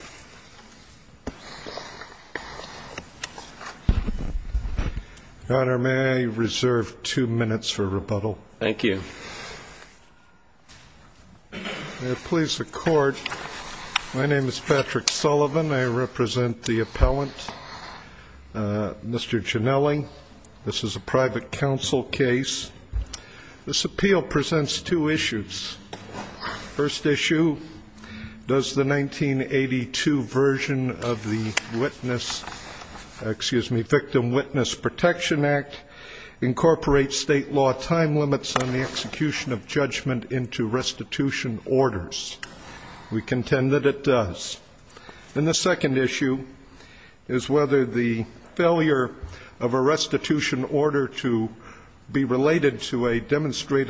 My name is Patrick Sullivan. I represent the appellant, Mr. Gianelli. This is a private court in Washington, D.C. The first issue is whether the 1982 version of the Victim Witness Protection Act incorporates state law time limits on the execution of judgment into restitution orders. We contend that it does. And the second issue is whether the 1982 version of the Victim Witness Protection Act incorporates state law time limits on the execution of judgment into restitution orders.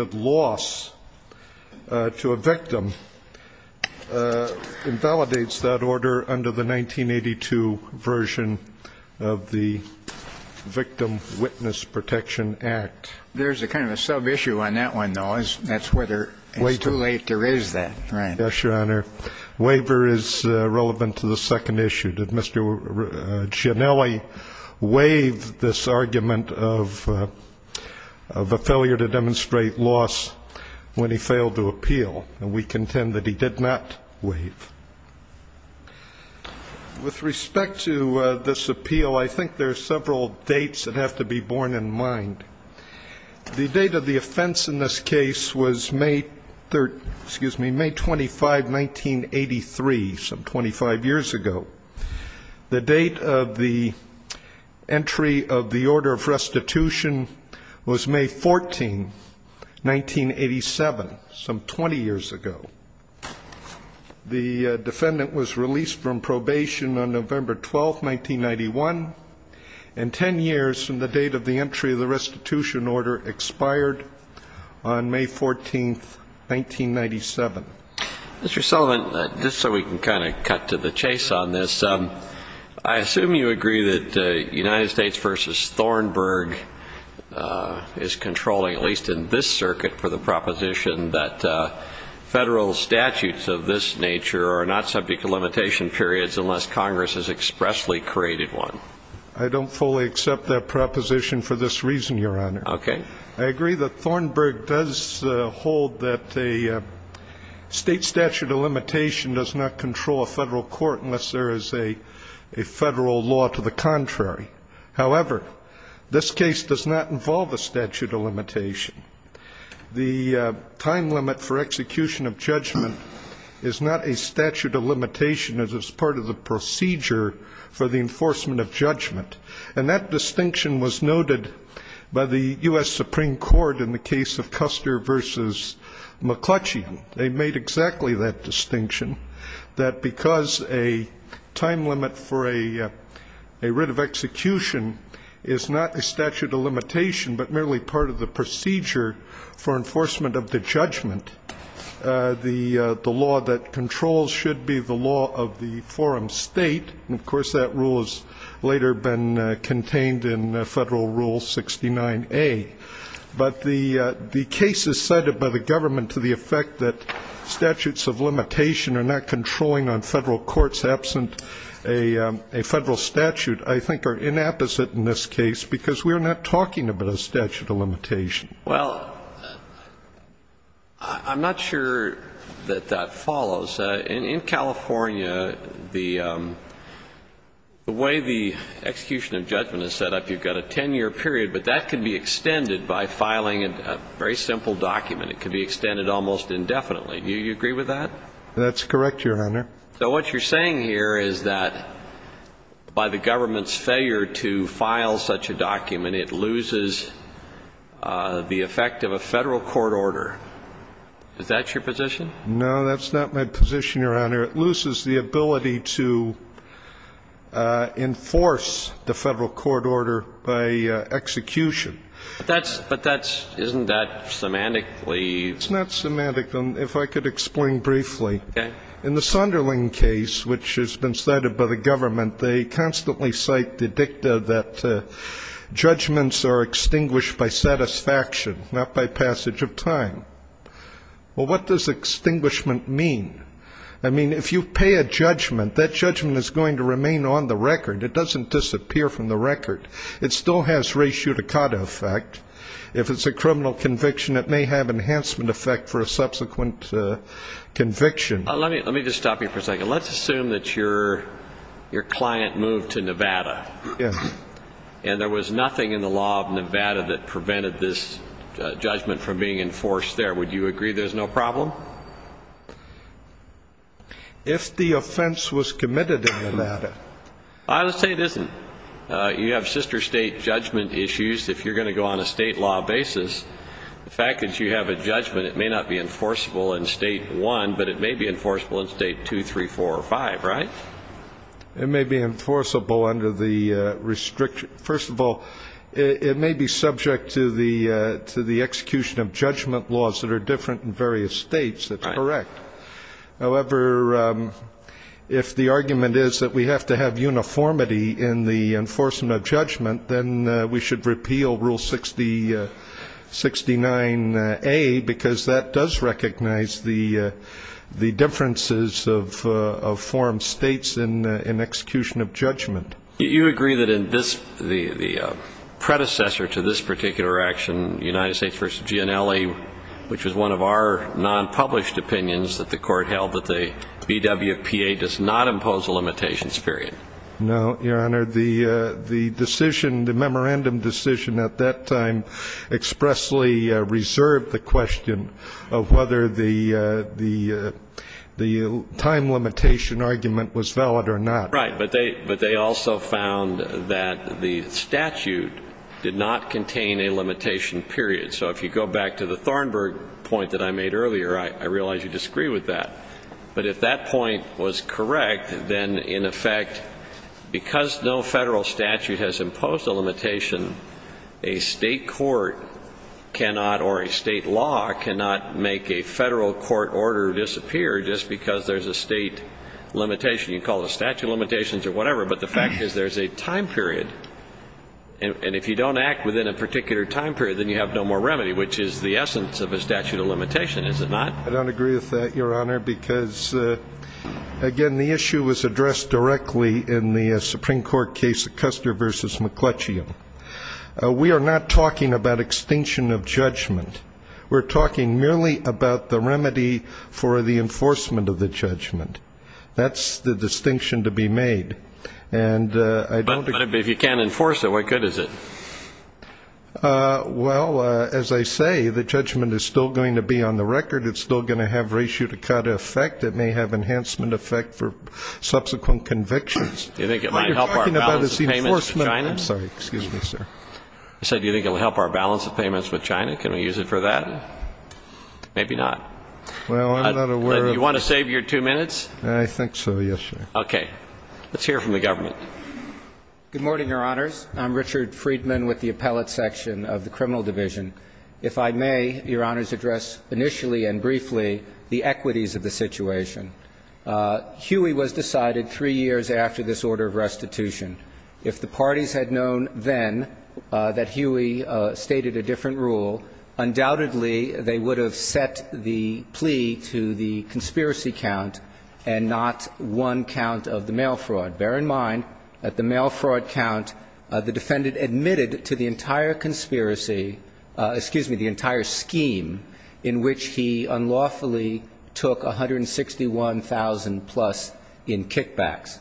We contend that it does. And the third issue is whether the 1982 version of the Victim Witness Protection Act incorporates state law time limits on the execution of judgment into restitution orders. We contend that it does. With respect to this appeal, I think there are several dates that have to be borne in mind. The date of the offense in this case was May 25, 1983, some 25 years ago. The date of the entry of the order of restitution was May 14, 1987, some 20 years ago. The defendant was released from probation on November 12, 1991, and ten years from the date of the entry of the restitution order expired on May 14, 1997. Mr. Sullivan, just so we can kind of cut to the chase on this, I assume you agree that United States v. Thornburg is controlling, at least in this circuit, for the proposition that Federal statutes of this nature are not subject to limitation periods unless Congress has expressly created one. I don't fully accept that proposition for this reason, Your Honor. Okay. I agree that Thornburg does hold that a state statute of limitation does not control a Federal court unless there is a Federal law to the contrary. However, this case does not involve a statute of limitation. The time limit for execution of judgment is not a statute of limitation. It is part of the procedure for the enforcement of judgment. And that distinction was noted by the U.S. Supreme Court in the case of Custer v. McClutchy. They made exactly that distinction, that because a time limit for a writ of execution is not a statute of limitation but merely part of the procedure for enforcement of the judgment, the law that controls should be the law of the forum state. Of course, that rule has later been contained in Federal Rule 69A. But the cases cited by the government to the effect that statutes of limitation are not controlling on Federal courts absent a Federal statute I think are inapposite in this case because we are not talking about a statute of limitation. In California, the way the execution of judgment is set up, you've got a 10-year period, but that can be extended by filing a very simple document. It can be extended almost indefinitely. Do you agree with that? That's correct, Your Honor. So what you're saying here is that by the government's failure to file such a document, it loses the effect of a Federal court order. Is that your position? No, that's not my position, Your Honor. It loses the ability to enforce the Federal court order by execution. But that's – but that's – isn't that semantically – It's not semantic. If I could explain briefly. Okay. In the Sunderland case, which has been cited by the government, they constantly cite the dicta that judgments are extinguished by satisfaction, not by passage of time. Well, what does extinguishment mean? I mean, if you pay a judgment, that judgment is going to remain on the record. It doesn't disappear from the record. It still has res judicata effect. If it's a criminal conviction, it may have enhancement effect for a subsequent conviction. Let me just stop you for a second. Let's assume that your client moved to Nevada. Yes. And there was nothing in the law of Nevada that prevented this judgment from being enforced there. Would you agree there's no problem? If the offense was committed in Nevada. I would say it isn't. You have sister state judgment issues. If you're going to go on a state law basis, the fact that you have a judgment, it may not be enforceable in State 1, but it may be enforceable in State 2, 3, 4, or 5, right? It may be enforceable under the restriction. First of all, it may be subject to the execution of judgment laws that are different in various states. That's correct. However, if the argument is that we have to have uniformity in the enforcement of judgment, then we should repeal Rule 69A, because that does recognize the states in execution of judgment. Do you agree that the predecessor to this particular action, United States v. Gianelli, which was one of our nonpublished opinions that the court held that the BWPA does not impose a limitations period? No, Your Honor. The decision, the memorandum decision at that time expressly reserved the question of whether the time limitation argument was valid or not. Right. But they also found that the statute did not contain a limitation period. So if you go back to the Thornburg point that I made earlier, I realize you disagree with that. But if that point was correct, then, in effect, because no federal statute has imposed a limitation, a state court cannot or a state law cannot make a federal court order disappear just because there's a state limitation. You can call it a statute of limitations or whatever, but the fact is there's a time period. And if you don't act within a particular time period, then you have no more remedy, which is the essence of a statute of limitation, is it not? I don't agree with that, Your Honor, because, again, the issue was addressed directly in the Supreme Court case Custer v. McClutchy. We are not talking about extinction of judgment. We're talking merely about the remedy for the enforcement of the judgment. That's the distinction to be made. But if you can't enforce it, why good is it? Well, as I say, the judgment is still going to be on the record. It's still going to have ratio to cut effect. It may have enhancement effect for subsequent convictions. Do you think it might help our balance of payments with China? I'm sorry. Excuse me, sir. I said, do you think it will help our balance of payments with China? Can we use it for that? Maybe not. Well, I'm not aware of the ---- Do you want to save your two minutes? I think so, yes, Your Honor. Okay. Let's hear from the government. Justice Sotomayor. I would like to begin by saying that I think it's important to understand the equities of the situation. Huey was decided three years after this order of restitution. If the parties had known then that Huey stated a different rule, undoubtedly they would have set the plea to the conspiracy count and not one count of the mail fraud. But bear in mind, at the mail fraud count, the defendant admitted to the entire conspiracy ---- excuse me, the entire scheme in which he unlawfully took 161,000 plus in kickbacks.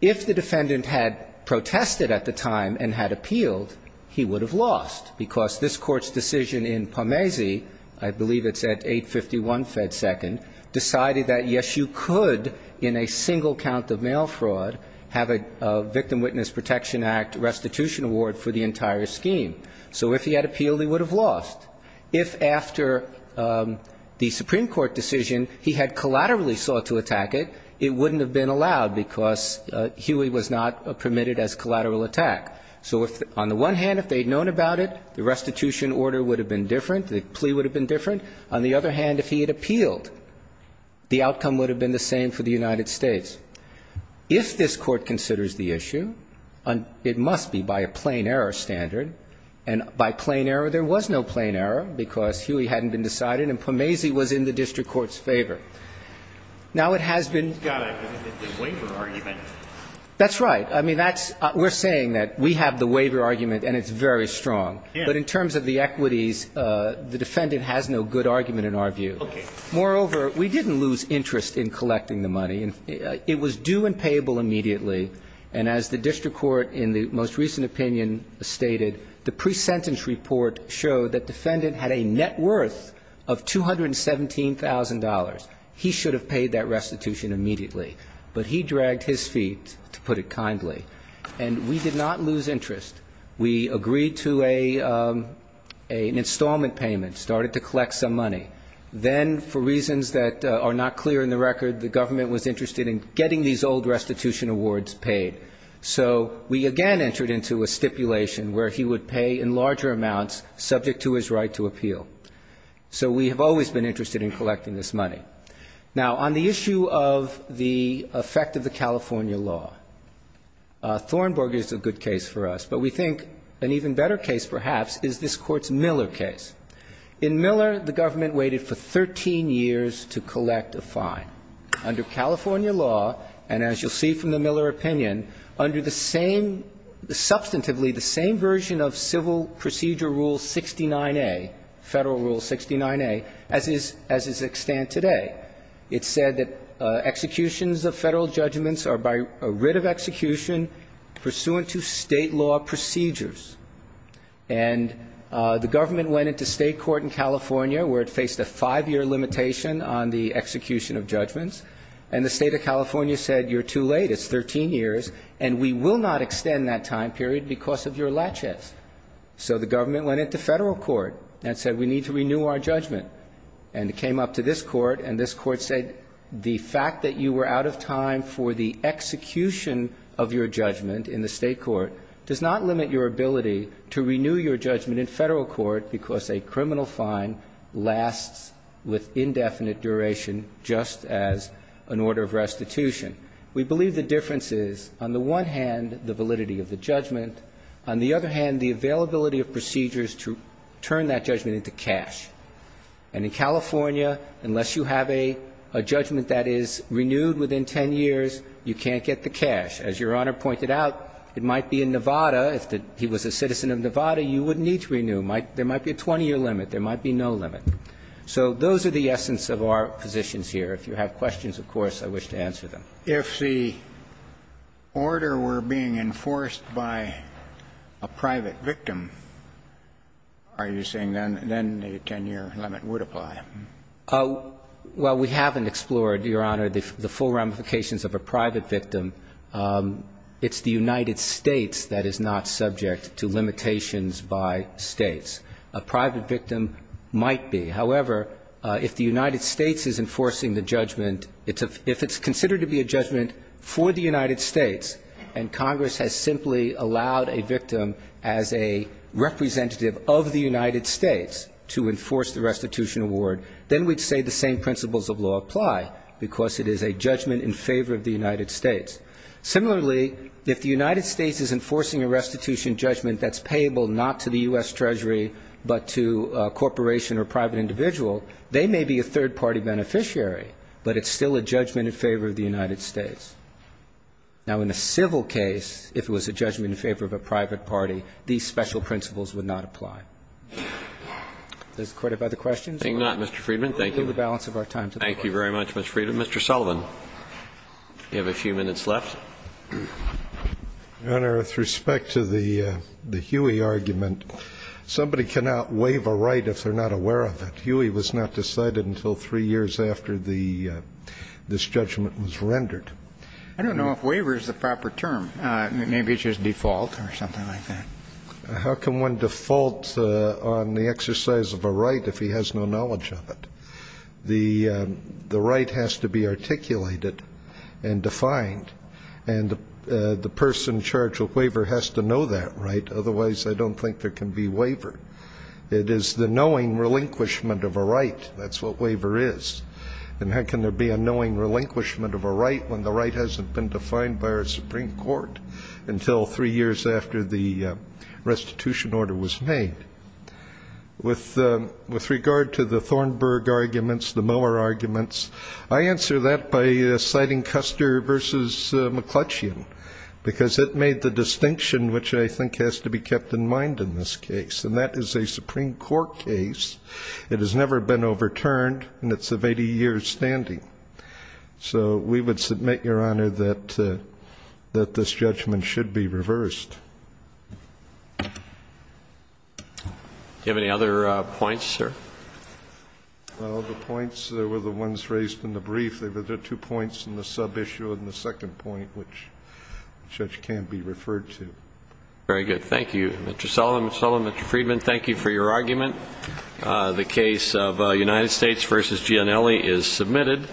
If the defendant had protested at the time and had appealed, he would have lost because this Court's decision in Parmezi, I believe it's at 851 Fed Second, decided that, yes, you could in a single count of mail fraud have a Victim Witness Protection Act restitution award for the entire scheme. So if he had appealed, he would have lost. If after the Supreme Court decision he had collaterally sought to attack it, it wouldn't have been allowed because Huey was not permitted as collateral attack. So if the ---- on the one hand, if they had known about it, the restitution order would have been different, the plea would have been different. On the other hand, if he had appealed, the outcome would have been the same for the United States. If this Court considers the issue, it must be by a plain error standard, and by plain error there was no plain error because Huey hadn't been decided and Parmezi was in the district court's favor. Now, it has been ---- The waiver argument. That's right. I mean, that's ---- we're saying that we have the waiver argument and it's very Yes. But in terms of the equities, the defendant has no good argument in our view. Okay. Moreover, we didn't lose interest in collecting the money. It was due and payable immediately. And as the district court in the most recent opinion stated, the pre-sentence report showed that defendant had a net worth of $217,000. He should have paid that restitution immediately. But he dragged his feet, to put it kindly. And we did not lose interest. We agreed to an installment payment, started to collect some money. Then, for reasons that are not clear in the record, the government was interested in getting these old restitution awards paid. So we again entered into a stipulation where he would pay in larger amounts, subject to his right to appeal. So we have always been interested in collecting this money. Now, on the issue of the effect of the California law, Thornburg is a good case for us, but we think an even better case, perhaps, is this Court's Miller case. In Miller, the government waited for 13 years to collect a fine. Under California law, and as you'll see from the Miller opinion, under the same ‑‑ substantively, the same version of Civil Procedure Rule 69A, Federal Rule 69A, as is at stand today. It said that executions of Federal judgments are by writ of execution pursuant to state law procedures. And the government went into state court in California, where it faced a five-year limitation on the execution of judgments. And the state of California said, You're too late. It's 13 years, and we will not extend that time period because of your latches. So the government went into Federal court and said, We need to renew our judgment. And it came up to this court, and this court said, The fact that you were out of time for the execution of your judgment in the state court does not limit your ability to renew your judgment in Federal court because a criminal fine lasts with indefinite duration just as an order of restitution. We believe the difference is, on the one hand, the validity of the judgment. On the other hand, the availability of procedures to turn that judgment into cash. And in California, unless you have a judgment that is renewed within 10 years, you can't get the cash. As Your Honor pointed out, it might be in Nevada. If he was a citizen of Nevada, you wouldn't need to renew. There might be a 20-year limit. There might be no limit. So those are the essence of our positions here. If you have questions, of course, I wish to answer them. If the order were being enforced by a private victim, are you saying then the 10-year limit would apply? Well, we haven't explored, Your Honor, the full ramifications of a private victim. It's the United States that is not subject to limitations by States. A private victim might be. However, if the United States is enforcing the judgment, if it's considered to be a judgment for the United States and Congress has simply allowed a victim as a representative of the United States to enforce the restitution award, then we'd say the same principles of law apply, because it is a judgment in favor of the United States. Similarly, if the United States is enforcing a restitution judgment that's payable not to the U.S. Treasury but to a corporation or private individual, they may be a third-party beneficiary, but it's still a judgment in favor of the United States. Now, in a civil case, if it was a judgment in favor of a private party, these special principles would not apply. Does the Court have other questions? I think not, Mr. Friedman. Thank you. We'll move the balance of our time to the floor. Thank you very much, Mr. Friedman. Mr. Sullivan, you have a few minutes left. Your Honor, with respect to the Huey argument, somebody cannot waive a right if they're not aware of it. Huey was not decided until three years after this judgment was rendered. I don't know if waiver is the proper term. Maybe it's just default or something like that. How can one default on the exercise of a right if he has no knowledge of it? The right has to be articulated and defined, and the person in charge of waiver has to know that right. Otherwise, I don't think there can be waiver. It is the knowing relinquishment of a right. That's what waiver is. And how can there be a knowing relinquishment of a right when the right hasn't been defined by our Supreme Court until three years after the restitution order was made? With regard to the Thornburg arguments, the Mower arguments, I answer that by citing Custer v. McClutchian because it made the distinction which I think has to be kept in mind in this case, and that is a Supreme Court case. It has never been overturned, and it's of 80 years' standing. So we would submit, Your Honor, that this judgment should be reversed. Do you have any other points, sir? Well, the points that were the ones raised in the brief, there were two points in the sub-issue and the second point which the judge can't be referred to. Very good. Thank you, Mr. Sullivan. Mr. Sullivan, Mr. Friedman, thank you for your argument. The case of United States v. Gianelli is submitted.